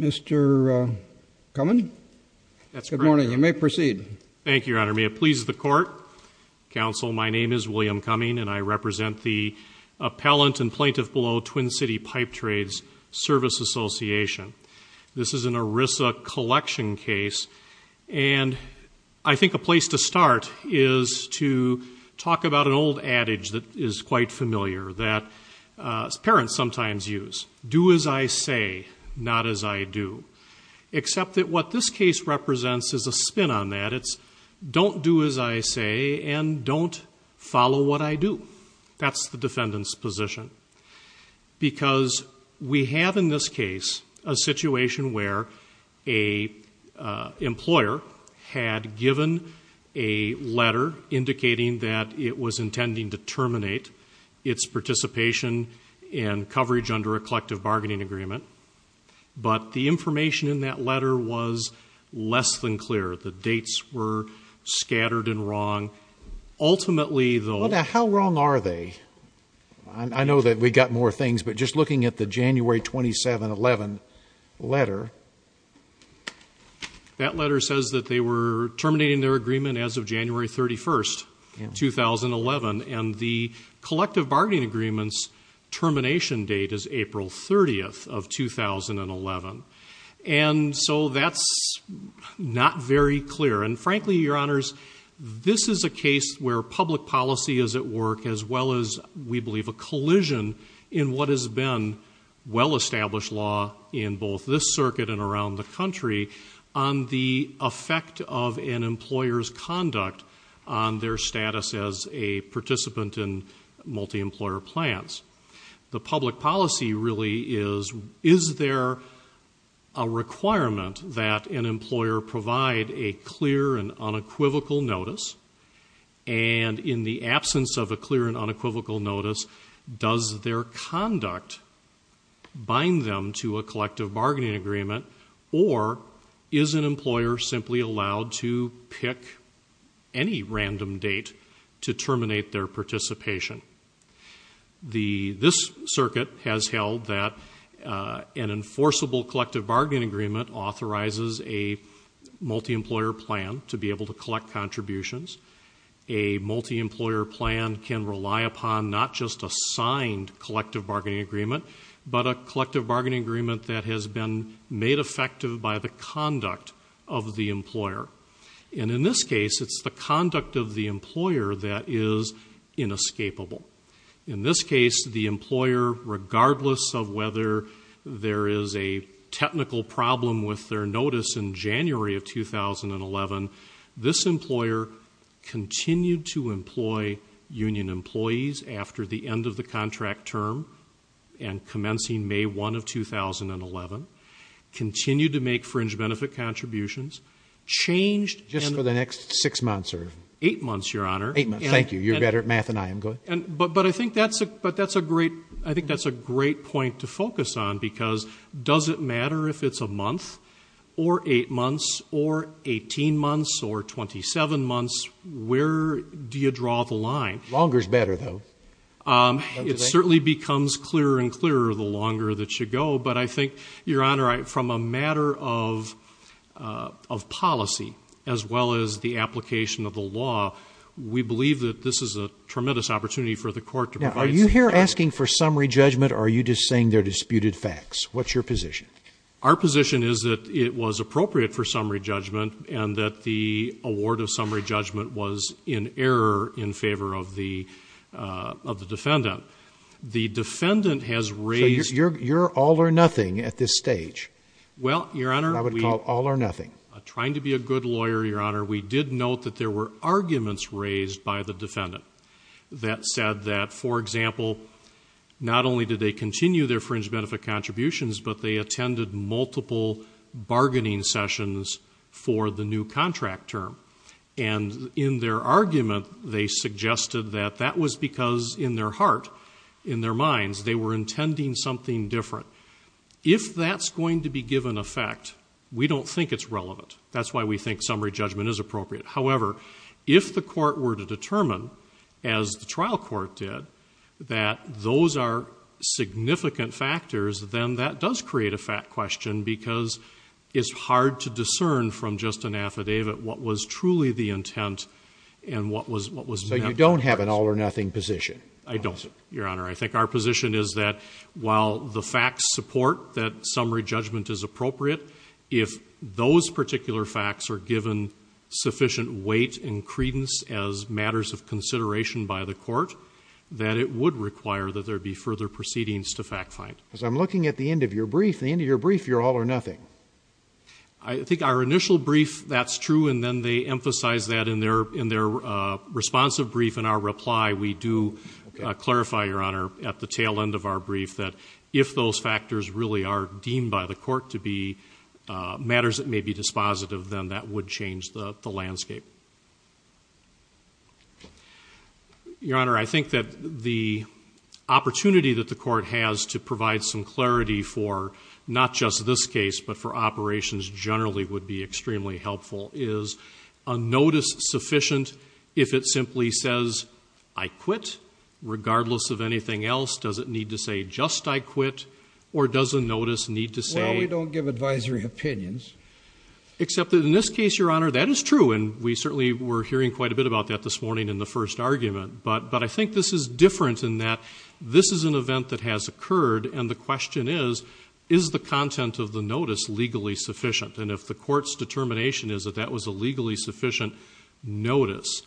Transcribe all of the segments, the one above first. Mr. Cumming, good morning. You may proceed. Thank you, Your Honor. May it please the Court, Counsel, my name is William Cumming and I represent the Appellant and Plaintiff Below Twin City Pipe Trades Service Association. This is an ERISA collection case and I think a place to start is to talk about an old adage that is quite familiar that parents sometimes use, do as I say, not as I do, except that what this case represents is a spin on that. It's don't do as I say and don't follow what I do. That's the defendant's position because we have in this case a situation where a employer had given a letter indicating that it was intending to terminate its participation and coverage under a collective bargaining agreement, but the information in that letter was less than clear. The dates were scattered and wrong. Ultimately, though... Well, now, how wrong are they? I know that we got more things, but just looking at the January 27-11 letter... That letter says that they were terminating their agreement as of January 31st, 2011, and the collective bargaining agreement's termination date is April 30th of 2011. And so that's not very clear. And frankly, Your Honors, this is a case where public policy is at work as well as, we believe, a collision in what has been well-established law in both this circuit and around the country on the effect of an employer's conduct on their status as a participant in multi-employer plans. The public policy really is, is there a requirement that an employer provide a clear and unequivocal notice? And in the absence of a clear and unequivocal notice, does their conduct bind them to a collective bargaining agreement, or is an employer simply allowed to pick any random date to terminate their participation? This circuit has held that an enforceable collective bargaining agreement authorizes a multi-employer plan to be able to collect contributions. A multi-employer plan can rely upon not just a signed collective bargaining agreement, but a collective bargaining agreement that has been made effective by the conduct of the employer. And in this case, it's the conduct of the employer that is inescapable. In this case, the employer, regardless of whether there is a technical problem with their notice in January of 2011, this employer continued to employ union employees after the end of the contract term and commencing May 1 of 2011, continued to make fringe benefit contributions, changed and... Just for the next six months or... Eight months, Your Honor. Eight months. Thank you. You're better at math than I am. Go ahead. But I think that's a great, I think that's a great point to focus on, because does it matter if it's a month or eight months or 18 months or 27 months? Where do you draw the line? Longer is better, though. It certainly becomes clearer and clearer the longer that you go, but I think, Your Honor, from a matter of policy as well as the application of the law, we believe that this is a tremendous opportunity for the court to provide... You're here asking for summary judgment or are you just saying they're disputed facts? What's your position? Our position is that it was appropriate for summary judgment and that the award of summary judgment was in error in favor of the defendant. The defendant has raised... So you're all or nothing at this stage? Well, Your Honor, we... I would call all or nothing. Trying to be a good lawyer, Your Honor, we did note that there were arguments raised by the defendant that said that, for example, not only did they continue their fringe benefit contributions, but they attended multiple bargaining sessions for the new contract term. And in their argument, they suggested that that was because in their heart, in their minds, they were intending something different. If that's going to be given effect, we don't think it's relevant. That's why we think summary judgment is appropriate. However, if the court were to determine, as the trial court did, that those are significant factors, then that does create a fat question because it's hard to discern from just an affidavit what was truly the intent and what was meant. So you don't have an all or nothing position? I don't, Your Honor. I think our position is that while the facts support that summary judgment is appropriate, if those particular facts are given sufficient weight and credence as matters of consideration by the court, that it would require that there be further proceedings to fact find. Because I'm looking at the end of your brief. At the end of your brief, you're all or nothing. I think our initial brief, that's true, and then they emphasize that in their responsive brief. In our reply, we do clarify, Your Honor, at the tail end of our brief, that if those factors really are deemed by the court to be matters that may be dispositive, then that would change the landscape. Your Honor, I think that the opportunity that the court has to provide some clarity for not just this case but for operations generally would be extremely helpful is a notice sufficient if it simply says, I quit, regardless of anything else. Does it need to say just I quit, or does a notice need to say? Well, we don't give advisory opinions. Except that in this case, Your Honor, that is true, and we certainly were hearing quite a bit about that this morning in the first argument. But I think this is different in that this is an event that has occurred, and the question is, is the content of the notice legally sufficient? And if the court's determination is that that was a legally sufficient notice,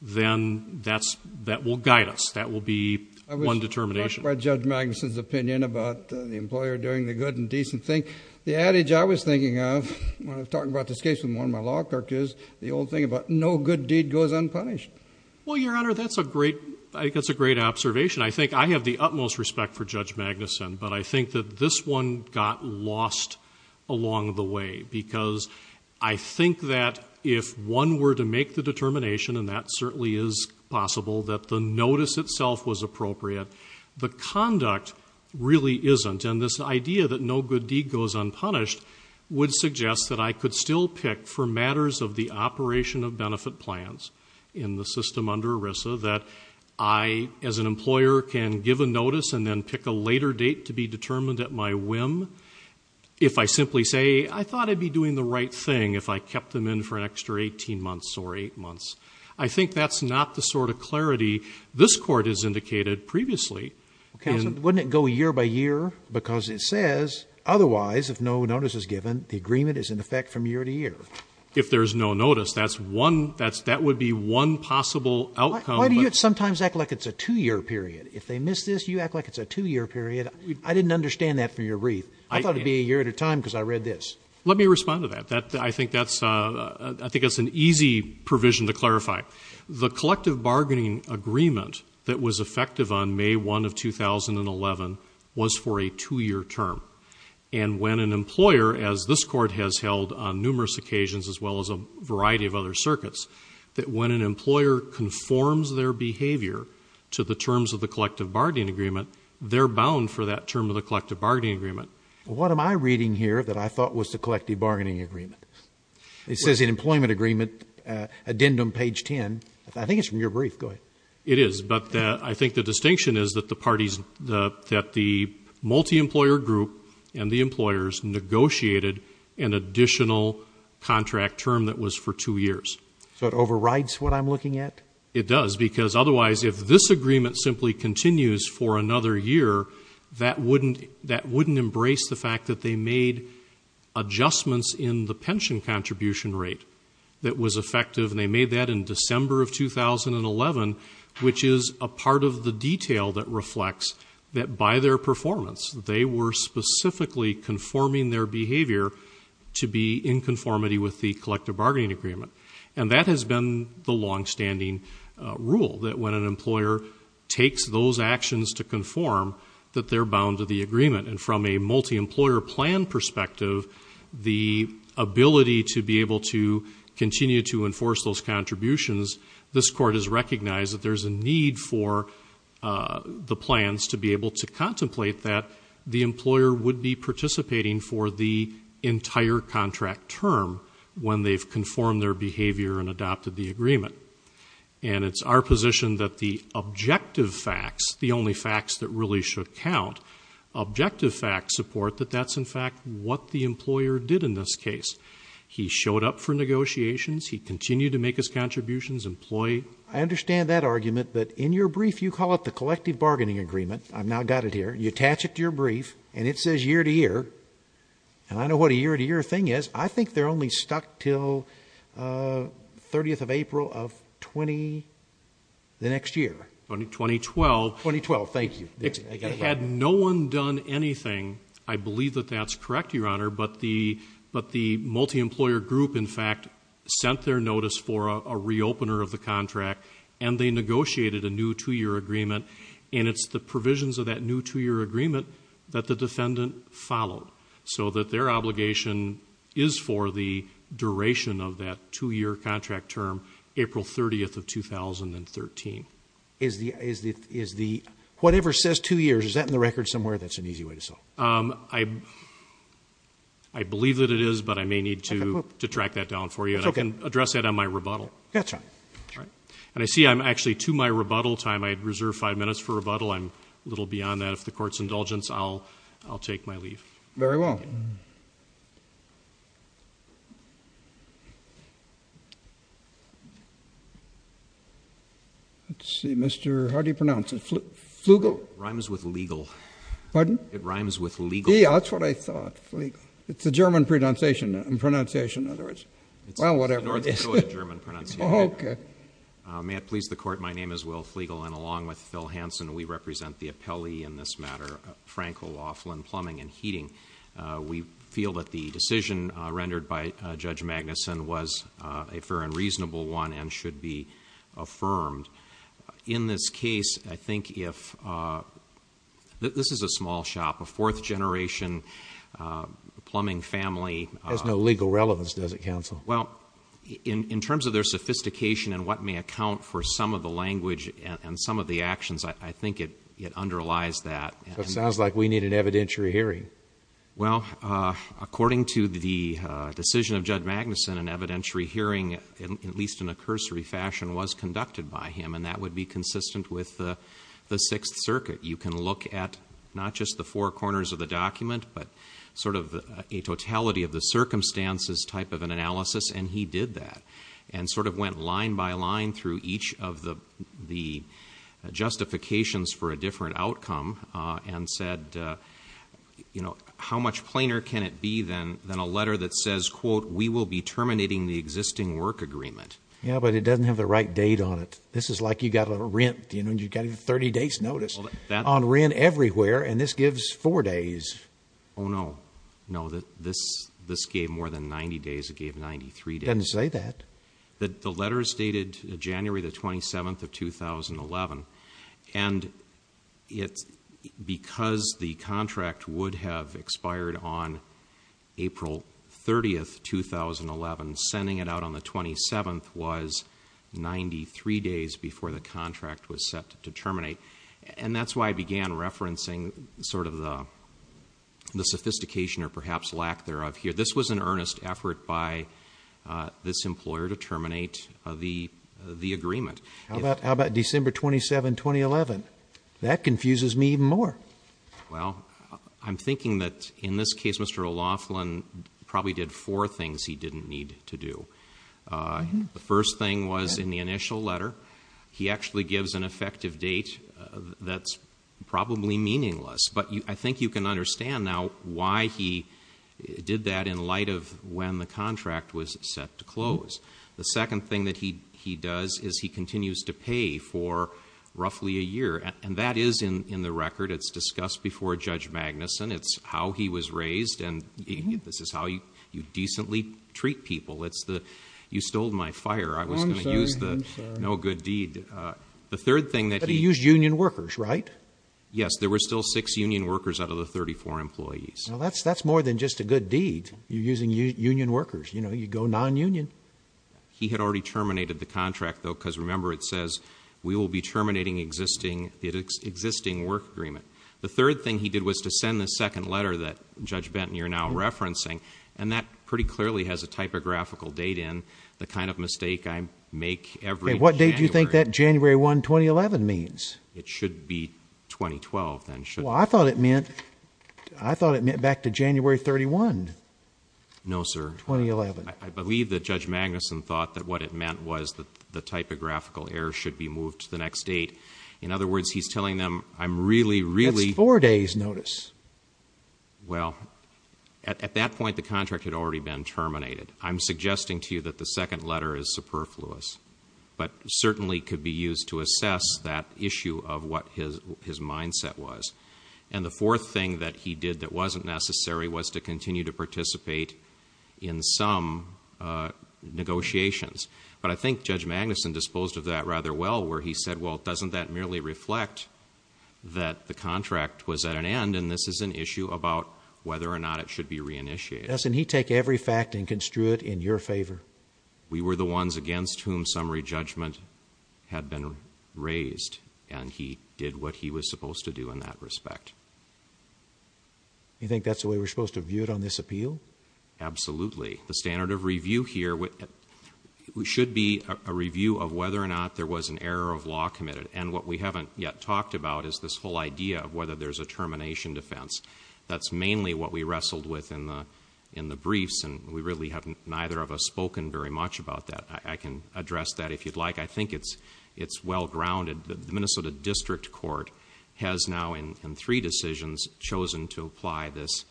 then that will guide us. That will be one determination. I was struck by Judge Magnuson's opinion about the employer doing the good and decent thing. The adage I was thinking of when I was talking about this case with one of my law clerks is the old thing about no good deed goes unpunished. Well, Your Honor, that's a great observation. I think I have the utmost respect for Judge Magnuson, but I think that this one got lost along the way because I think that if one were to make the determination, and that certainly is possible, that the notice itself was appropriate, the conduct really isn't. And this idea that no good deed goes unpunished would suggest that I could still pick for matters of the operation of benefit plans in the system under ERISA that I, as an employer, can give a notice and then pick a later date to be determined at my whim if I simply say, I thought I'd be doing the right thing if I kept them in for an extra 18 months or 8 months. I think that's not the sort of clarity this Court has indicated previously. Counsel, wouldn't it go year by year? Because it says, otherwise, if no notice is given, the agreement is in effect from year to year. If there's no notice, that would be one possible outcome. Why do you sometimes act like it's a two-year period? If they miss this, you act like it's a two-year period. I didn't understand that from your brief. I thought it would be a year at a time because I read this. Let me respond to that. I think that's an easy provision to clarify. The collective bargaining agreement that was effective on May 1 of 2011 was for a two-year term. And when an employer, as this Court has held on numerous occasions as well as a variety of other circuits, that when an employer conforms their behavior to the terms of the collective bargaining agreement, they're bound for that term of the collective bargaining agreement. What am I reading here that I thought was the collective bargaining agreement? It says in employment agreement, addendum page 10. I think it's from your brief. Go ahead. It is, but I think the distinction is that the parties, that the multi-employer group and the employers negotiated an additional contract term that was for two years. So it overrides what I'm looking at? It does because otherwise if this agreement simply continues for another year, that wouldn't embrace the fact that they made adjustments in the pension contribution rate that was effective, and they made that in December of 2011, which is a part of the detail that reflects that by their performance, they were specifically conforming their behavior to be in conformity with the collective bargaining agreement. And that has been the longstanding rule, that when an employer takes those actions to conform, and from a multi-employer plan perspective, the ability to be able to continue to enforce those contributions, this court has recognized that there's a need for the plans to be able to contemplate that the employer would be participating for the entire contract term when they've conformed their behavior and adopted the agreement. And it's our position that the objective facts, the only facts that really should count, objective facts support that that's in fact what the employer did in this case. He showed up for negotiations. He continued to make his contributions, employ. I understand that argument, but in your brief you call it the collective bargaining agreement. I've now got it here. You attach it to your brief, and it says year to year. And I know what a year to year thing is. I think they're only stuck until 30th of April of 20, the next year. 2012. 2012, thank you. Had no one done anything, I believe that that's correct, Your Honor, but the multi-employer group in fact sent their notice for a re-opener of the contract, and they negotiated a new two-year agreement. And it's the provisions of that new two-year agreement that the defendant followed, so that their obligation is for the duration of that two-year contract term, April 30th of 2013. Whatever says two years, is that in the record somewhere? That's an easy way to solve it. I believe that it is, but I may need to track that down for you. That's okay. And I can address that on my rebuttal. That's all right. And I see I'm actually to my rebuttal time. I reserve five minutes for rebuttal. I'm a little beyond that. If the Court's indulgence, I'll take my leave. Very well. Thank you. Let's see. Mr. How do you pronounce it? Flugel? Rhymes with legal. Pardon? It rhymes with legal. Yeah, that's what I thought. It's a German pronunciation, in other words. Well, whatever. It's a North Dakota German pronunciation. Okay. May it please the Court, my name is Will Flugel, and along with Phil Hansen, we represent the appellee in this matter, Frank O'Loughlin, Plumbing and Heating. We feel that the decision rendered by Judge Magnuson was a fair and reasonable one and should be affirmed. In this case, I think if... this is a small shop, a fourth generation plumbing family... It has no legal relevance, does it, counsel? Well, in terms of their sophistication and what may account for some of the actions, I think it underlies that. It sounds like we need an evidentiary hearing. Well, according to the decision of Judge Magnuson, an evidentiary hearing, at least in a cursory fashion, was conducted by him, and that would be consistent with the Sixth Circuit. You can look at not just the four corners of the document, but sort of a totality of the circumstances type of an analysis, and he did that and sort of went line by line through each of the justifications for a different outcome and said, you know, how much plainer can it be than a letter that says, quote, we will be terminating the existing work agreement? Yeah, but it doesn't have the right date on it. This is like you've got a rent, you know, and you've got a 30 days notice on rent everywhere, and this gives four days. Oh, no. No, this gave more than 90 days. It gave 93 days. It doesn't say that. The letters dated January the 27th of 2011, and because the contract would have expired on April 30th, 2011, sending it out on the 27th was 93 days before the contract was set to terminate, and that's why I began referencing sort of the sophistication or perhaps lack thereof here. This was an earnest effort by this employer to terminate the agreement. How about December 27, 2011? That confuses me even more. Well, I'm thinking that in this case Mr. O'Loughlin probably did four things he didn't need to do. The first thing was in the initial letter, he actually gives an effective date that's probably meaningless, but I think you can understand now why he did that in light of when the contract was set to close. The second thing that he does is he continues to pay for roughly a year, and that is in the record. It's discussed before Judge Magnuson. It's how he was raised, and this is how you decently treat people. It's the you stole my fire. I was going to use the no good deed. The third thing that he... But he used union workers, right? Yes. There were still six union workers out of the 34 employees. Well, that's more than just a good deed. You're using union workers. You go non-union. He had already terminated the contract, though, because remember it says we will be terminating the existing work agreement. The third thing he did was to send the second letter that, Judge Benton, you're now referencing, and that pretty clearly has a typographical date in, the kind of mistake I make every January. Okay, what date do you think that January 1, 2011 means? It should be 2012, then, shouldn't it? Well, I thought it meant back to January 31. No, sir. 2011. I believe that Judge Magnuson thought that what it meant was the typographical error should be moved to the next date. In other words, he's telling them, I'm really, really... That's four days' notice. Well, at that point, the contract had already been terminated. I'm suggesting to you that the second letter is superfluous, but certainly could be used to assess that issue of what his mindset was. And the fourth thing that he did that wasn't necessary was to continue to participate in some negotiations. But I think Judge Magnuson disposed of that rather well, where he said, well, doesn't that merely reflect that the contract was at an end, and this is an issue about whether or not it should be reinitiated? Yes, and he took every fact and construed it in your favor. We were the ones against whom summary judgment had been raised, and he did what he was supposed to do in that respect. You think that's the way we're supposed to view it on this appeal? Absolutely. The standard of review here should be a review of whether or not there was an error of law committed. And what we haven't yet talked about is this whole idea of whether there's a termination defense. That's mainly what we wrestled with in the briefs, and we really haven't, neither of us, spoken very much about that. I can address that if you'd like. I think it's well-grounded. The Minnesota District Court has now, in three decisions, chosen to apply this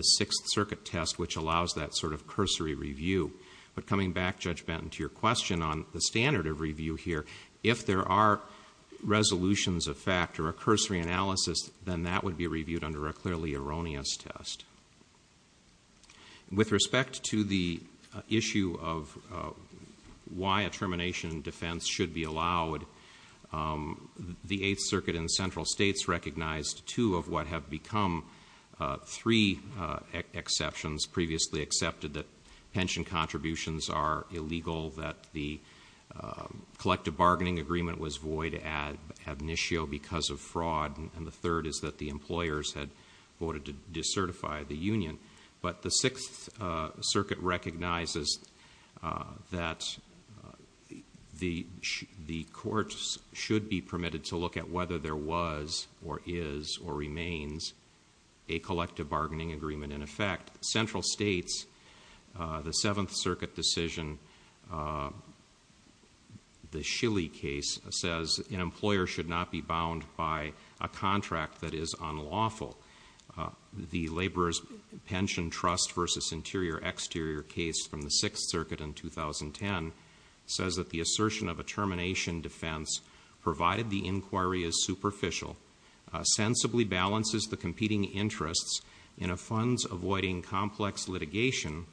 Sixth Circuit test, which allows that sort of cursory review. But coming back, Judge Benton, to your question on the standard of review here, if there are resolutions of fact or a cursory analysis, then that would be reviewed under a clearly erroneous test. With respect to the issue of why a termination defense should be allowed, the Eighth Circuit and central states recognized two of what have become three exceptions. Previously accepted that pension contributions are illegal, that the collective bargaining agreement was void ad initio because of fraud, and the third is that the employers had voted to decertify the union. But the Sixth Circuit recognizes that the courts should be permitted to look at whether there was or is or remains a collective bargaining agreement in effect. Central states, the Seventh Circuit decision, the Schilly case, says an employer should not be bound by a contract that is unlawful. The laborers pension trust versus interior exterior case from the Sixth Circuit in 2010 says that the assertion of a termination defense, provided the inquiry is superficial, sensibly balances the competing interests in a funds avoiding complex litigation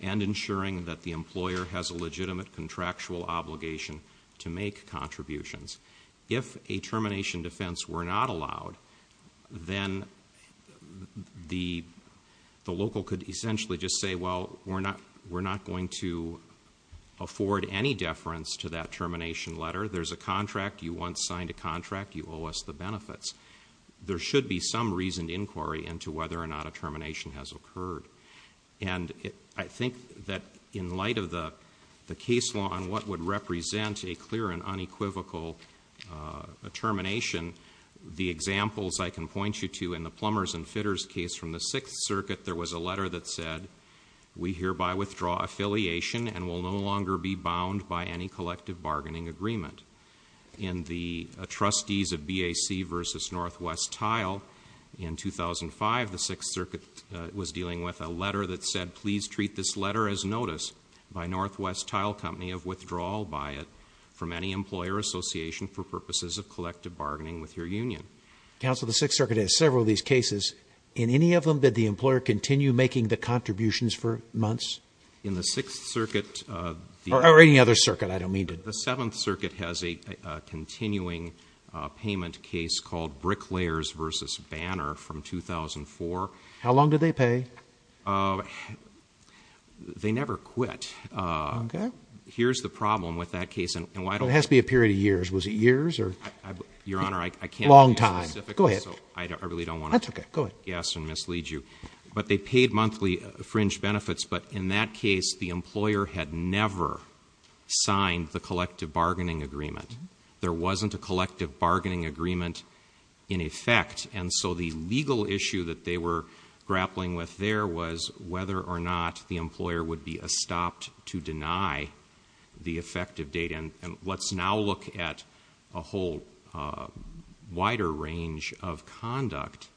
and ensuring that the employer has a legitimate contractual obligation to make contributions. If a termination defense were not allowed, then the local could essentially just say, well, we're not going to afford any deference to that termination letter. There's a contract. You once signed a contract. You owe us the benefits. There should be some reasoned inquiry into whether or not a termination has occurred. And I think that in light of the case law on what would represent a clear and unequivocal termination, the examples I can point you to in the plumbers and fitters case from the Sixth Circuit, there was a letter that said we hereby withdraw affiliation and will no longer be bound by any collective bargaining agreement. In the trustees of BAC versus Northwest Tile in 2005, the Sixth Circuit was dealing with a letter that said, please treat this letter as notice by Northwest Tile company of withdrawal by it from any employer association for purposes of collective bargaining with your union. Counsel, the Sixth Circuit has several of these cases in any of them. Did the employer continue making the contributions for months in the Sixth Circuit or any other circuit? I don't mean to the Seventh Circuit has a continuing payment case called brick layers versus banner from 2004. How long did they pay? Uh, they never quit. Uh, here's the problem with that case and why it has to be a period of years. Was it years or your honor? I can't long time. Go ahead. I really don't want to guess and mislead you, but they paid monthly fringe benefits. But in that case, the employer had never signed the collective bargaining agreement. And there wasn't a collective bargaining agreement in effect. And so the legal issue that they were grappling with there was whether or not the employer would be a stopped to deny the effective date. And let's now look at a whole, uh, wider range of conduct.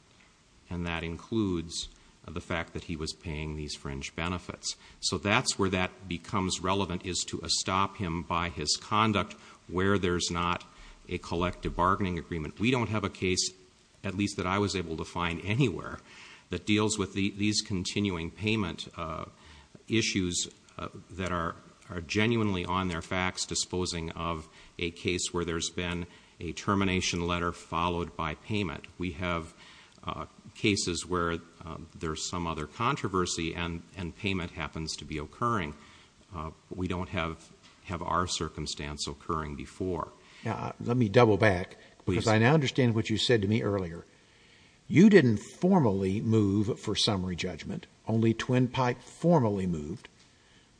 And that includes the fact that he was paying these fringe benefits. So that's where that becomes relevant is to a stop him by his conduct, where there's not a collective bargaining agreement. We don't have a case, at least that I was able to find anywhere that deals with the, these continuing payment, uh, issues that are genuinely on their facts, disposing of a case where there's been a termination letter followed by payment. We have, uh, cases where there's some other controversy and, and payment happens to be occurring. Uh, we don't have, have our circumstance occurring before. Let me double back because I now understand what you said to me earlier. You didn't formally move for summary judgment, only twin pipe formally moved,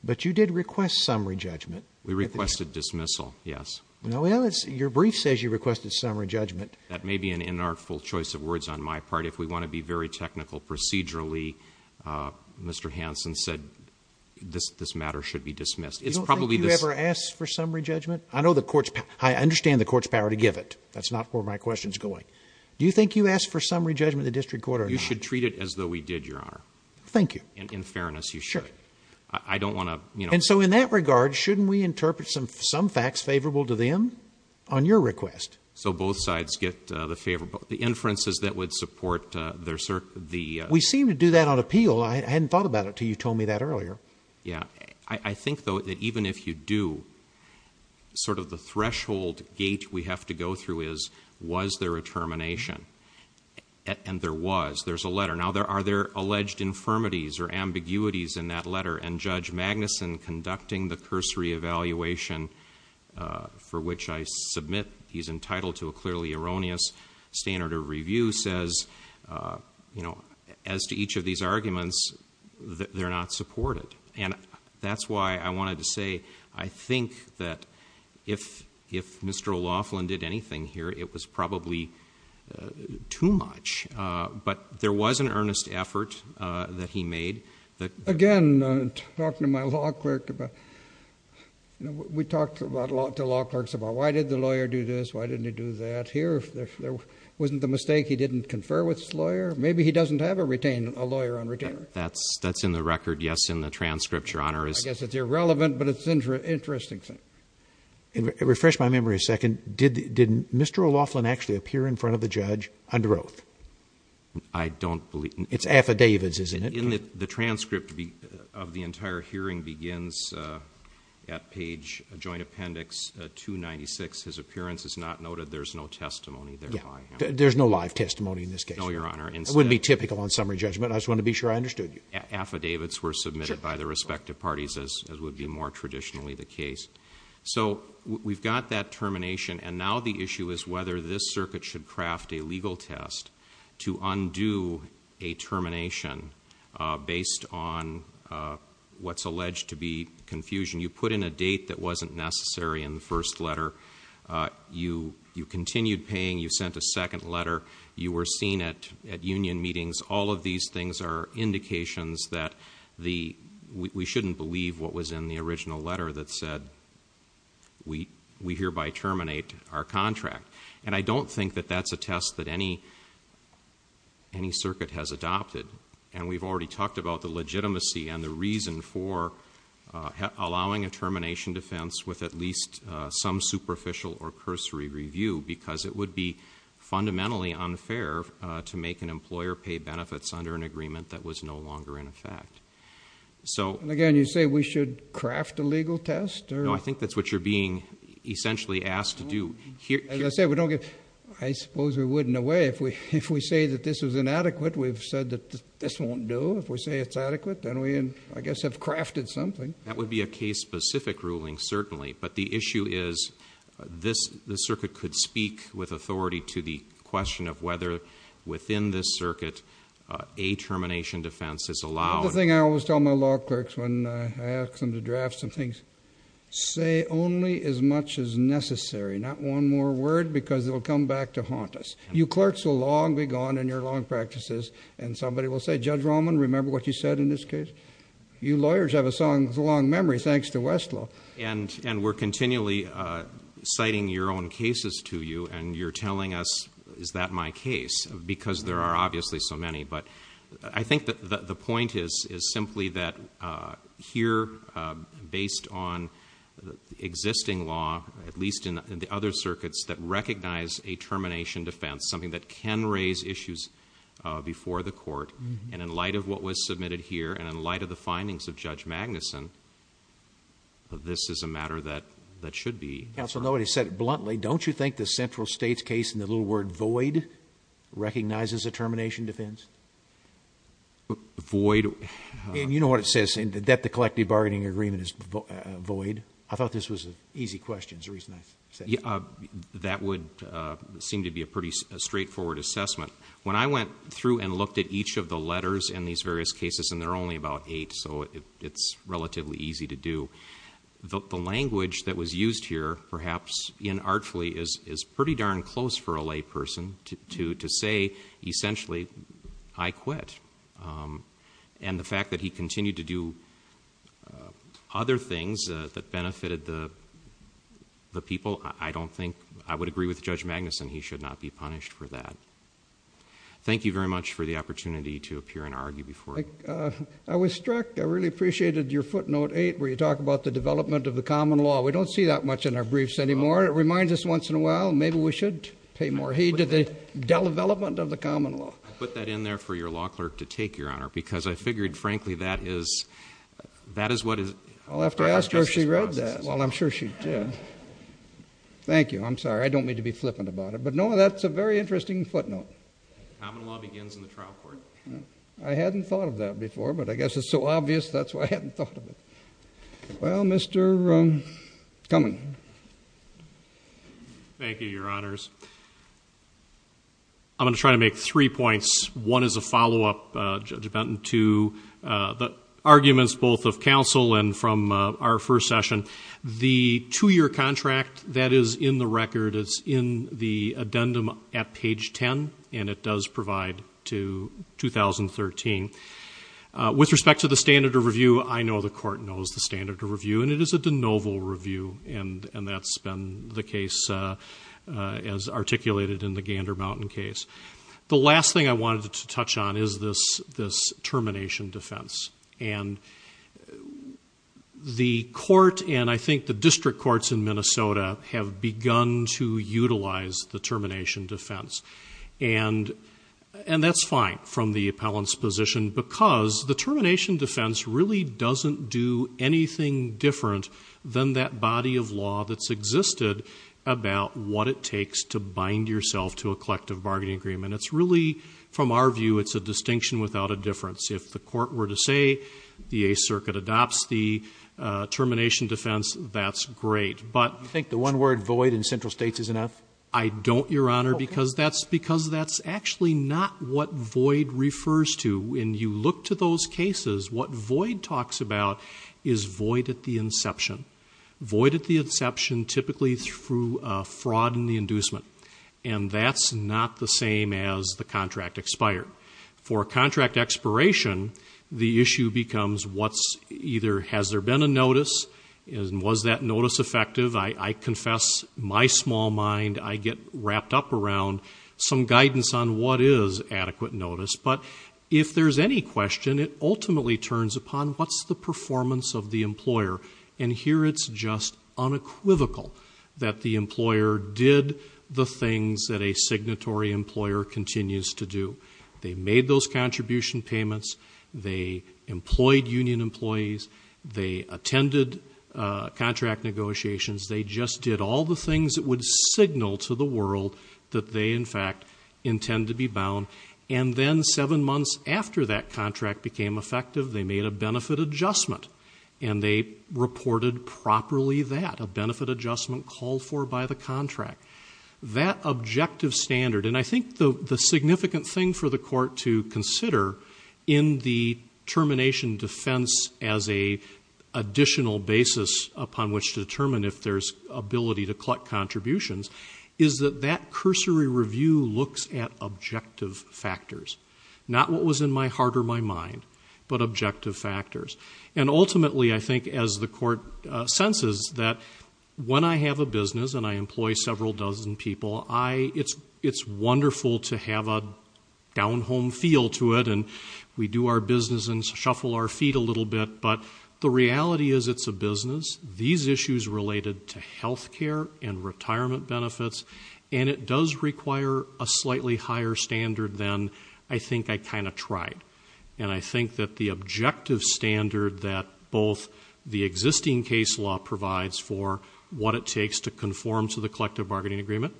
but you did request summary judgment. We requested dismissal. Yes. No, well, it's your brief says you requested summary judgment. That may be an inartful choice of words on my part. If we want to be very technical procedurally, uh, this, this matter should be dismissed. It's probably, you ever asked for summary judgment. I know the courts, I understand the court's power to give it. That's not where my question's going. Do you think you asked for summary judgment, the district court, or you should treat it as though we did your honor. Thank you. And in fairness, you should, I don't want to, you know, and so in that regard, shouldn't we interpret some, some facts favorable to them on your request? So both sides get the favorable, the inferences that would support their, sir, the, we seem to do that on appeal. Well, I hadn't thought about it till you told me that earlier. Yeah. I think though that even if you do sort of the threshold gate, we have to go through is, was there a termination and there was, there's a letter now there, are there alleged infirmities or ambiguities in that letter? And judge Magnuson conducting the cursory evaluation, uh, for which I submit he's entitled to a clearly erroneous standard of view says, uh, you know, as to each of these arguments, they're not supported. And that's why I wanted to say, I think that if, if Mr. Laughlin did anything here, it was probably too much. Uh, but there was an earnest effort that he made that again, talking to my law clerk about, you know, we talked about a lot to law clerks about why did the lawyer do this? Why didn't he do that here? If there wasn't the mistake, he didn't confer with his lawyer. Maybe he doesn't have a retain, a lawyer on retainer. That's that's in the record. Yes. In the transcript, your honor is irrelevant, but it's interesting. Interesting thing. And refresh my memory a second. Did, didn't Mr. Laughlin actually appear in front of the judge under oath? I don't believe it's affidavits. Isn't it? The transcript of the entire hearing begins, uh, at page a joint appendix, uh, two 96. His appearance is not noted. There's no testimony there. There's no live testimony in this case. No, your honor. And it wouldn't be typical on summary judgment. I just want to be sure I understood you. Affidavits were submitted by the respective parties as, as would be more traditionally the case. So we've got that termination. And now the issue is whether this circuit should craft a legal test to undo a termination, uh, based on, uh, what's alleged to be confusion. You put in a date that wasn't necessary in the first letter. Uh, you, you continued paying, you sent a second letter, you were seen at at union meetings. All of these things are indications that the, we shouldn't believe what was in the original letter that said we, we hereby terminate our contract. And I don't think that that's a test that any, any circuit has adopted. And we've already talked about the legitimacy and the reason for, uh, allowing a termination defense with at least, uh, some superficial or cursory review, because it would be fundamentally unfair to make an employer pay benefits under an agreement that was no longer in effect. So again, you say we should craft a legal test or I think that's what you're being essentially asked to do here. As I said, we don't get, I suppose we wouldn't away. If we, if we say that this was inadequate, we've said that this won't do if we say it's adequate, then we, I guess have crafted something. That would be a case specific ruling certainly. But the issue is this, the circuit could speak with authority to the question of whether within this circuit, uh, a termination defense is allowed. The thing I always tell my law clerks, when I ask them to draft some things, say only as much as necessary, not one more word because it will come back to haunt us. You clerks will long be gone in your long practices and somebody will say, judge Roman, remember what you said in this case, you lawyers have a song with a long memory. Thanks to Westlaw. And, and we're continually, uh, citing your own cases to you and you're telling us, is that my case because there are obviously so many, but I think that the point is, is simply that, uh, here, uh, based on the existing law, at least in the other circuits that recognize a termination defense, something that can raise issues, uh, before the court. And in light of what was submitted here and in light of the findings of judge Magnuson, this is a matter that, that should be. So nobody said it bluntly. Don't you think the central state's case in the little word void recognizes a termination defense void? And you know what it says in the debt, the collective bargaining agreement is void. I thought this was an easy question is the reason I said that would seem to be a pretty straightforward assessment. When I went through and looked at each of the letters in these various cases, and they're only about eight. So it's relatively easy to do. The language that was used here, perhaps in artfully is, is pretty darn close for a lay person to, to, to say, essentially I quit. Um, and the fact that he continued to do, uh, other things, uh, that benefited the, the people. I don't think, I would agree with judge Magnuson. He should not be punished for that. Thank you very much for the opportunity to appear and argue before. I was struck. I really appreciated your footnote eight, where you talk about the development of the common law. We don't see that much in our briefs anymore. It reminds us once in a while, maybe we should pay more heed to the development of the common law. I put that in there for your law clerk to take your honor, because I figured, frankly, that is, that is what is I'll have to ask her. She read that. Well, I'm sure she did. Thank you. I'm sorry. I don't mean to be flippant about it, but no, that's a very interesting footnote. Common law begins in the trial court. I hadn't thought of that before, but I guess it's so obvious. That's why I hadn't thought of it. Well, Mr. Um, coming. Thank you, your honors. I'm going to try to make three points. One is a follow-up, uh, dependent to, uh, the arguments, both of council and from, uh, our first session, the two-year contract that is in the record. It's in the addendum at page 10 and it does provide to 2013, uh, with respect to the standard of review. I know the court knows the standard of review and it is a de novo review. And, and that's been the case, uh, uh, as articulated in the Gander mountain case. The last thing I wanted to touch on is this, this termination defense. And the court, and I think the district courts in Minnesota have begun to utilize the termination defense and, and that's fine from the appellant's position because the termination defense really doesn't do anything different than that body of law. It's really from our view, it's a distinction without a difference. If the court were to say the a circuit adopts the, uh, termination defense, that's great. But I think the one word void in central states is enough. I don't your honor, because that's, because that's actually not what void refers to. When you look to those cases, what void talks about is void at the inception void at the inception, typically through a fraud and the inducement. And that's not the same as the contract expired for a contract expiration. The issue becomes what's either, has there been a notice? And was that notice effective? I confess my small mind. I get wrapped up around some guidance on what is adequate notice. But if there's any question, it's just unequivocal that the employer did the things that a signatory employer continues to do. They made those contribution payments. They employed union employees. They attended a contract negotiations. They just did all the things that would signal to the world that they in fact intend to be bound. And then seven months after that contract became effective, they made a benefit adjustment and they reported properly that a benefit adjustment called for by the contract, that objective standard. And I think the significant thing for the court to consider in the termination defense as a additional basis upon which to determine if there's ability to collect contributions is that that cursory review looks at not only my mind, but objective factors. And ultimately I think as the court senses that when I have a business and I employ several dozen people, I, it's, it's wonderful to have a down home feel to it and we do our business and shuffle our feet a little bit. But the reality is it's a business. These issues related to healthcare and retirement benefits, and it does require a slightly higher standard than I think I kind of tried. And I think that the objective standard that both the existing case law provides for what it takes to conform to the collective bargaining agreement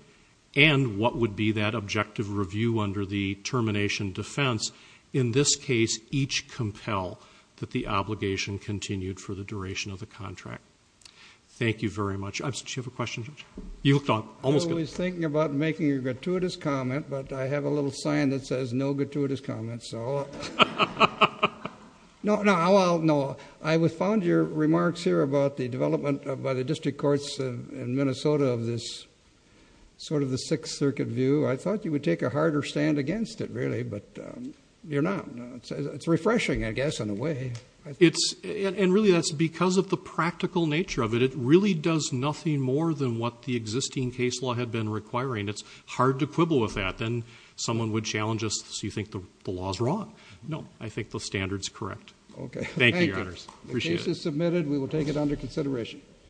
and what would be that objective review under the termination defense. In this case, each compel that the obligation continued for the duration of the contract. Thank you very much. I have a question. You thought I was thinking about making a gratuitous comment, but I have a little sign that says no gratuitous comments. So no, no, I'll know. I was found your remarks here about the development of, by the district courts in Minnesota of this sort of the sixth circuit view. I thought you would take a harder stand against it really, but you're not, it's refreshing, I guess, in a way. And really that's because of the practical nature of it. It really does nothing more than what the existing case law had been requiring. It's hard to quibble with that. Then someone would challenge us. So you think the law is wrong? No, I think the standard is correct. Okay. Thank you. The case is submitted. We will take it under consideration.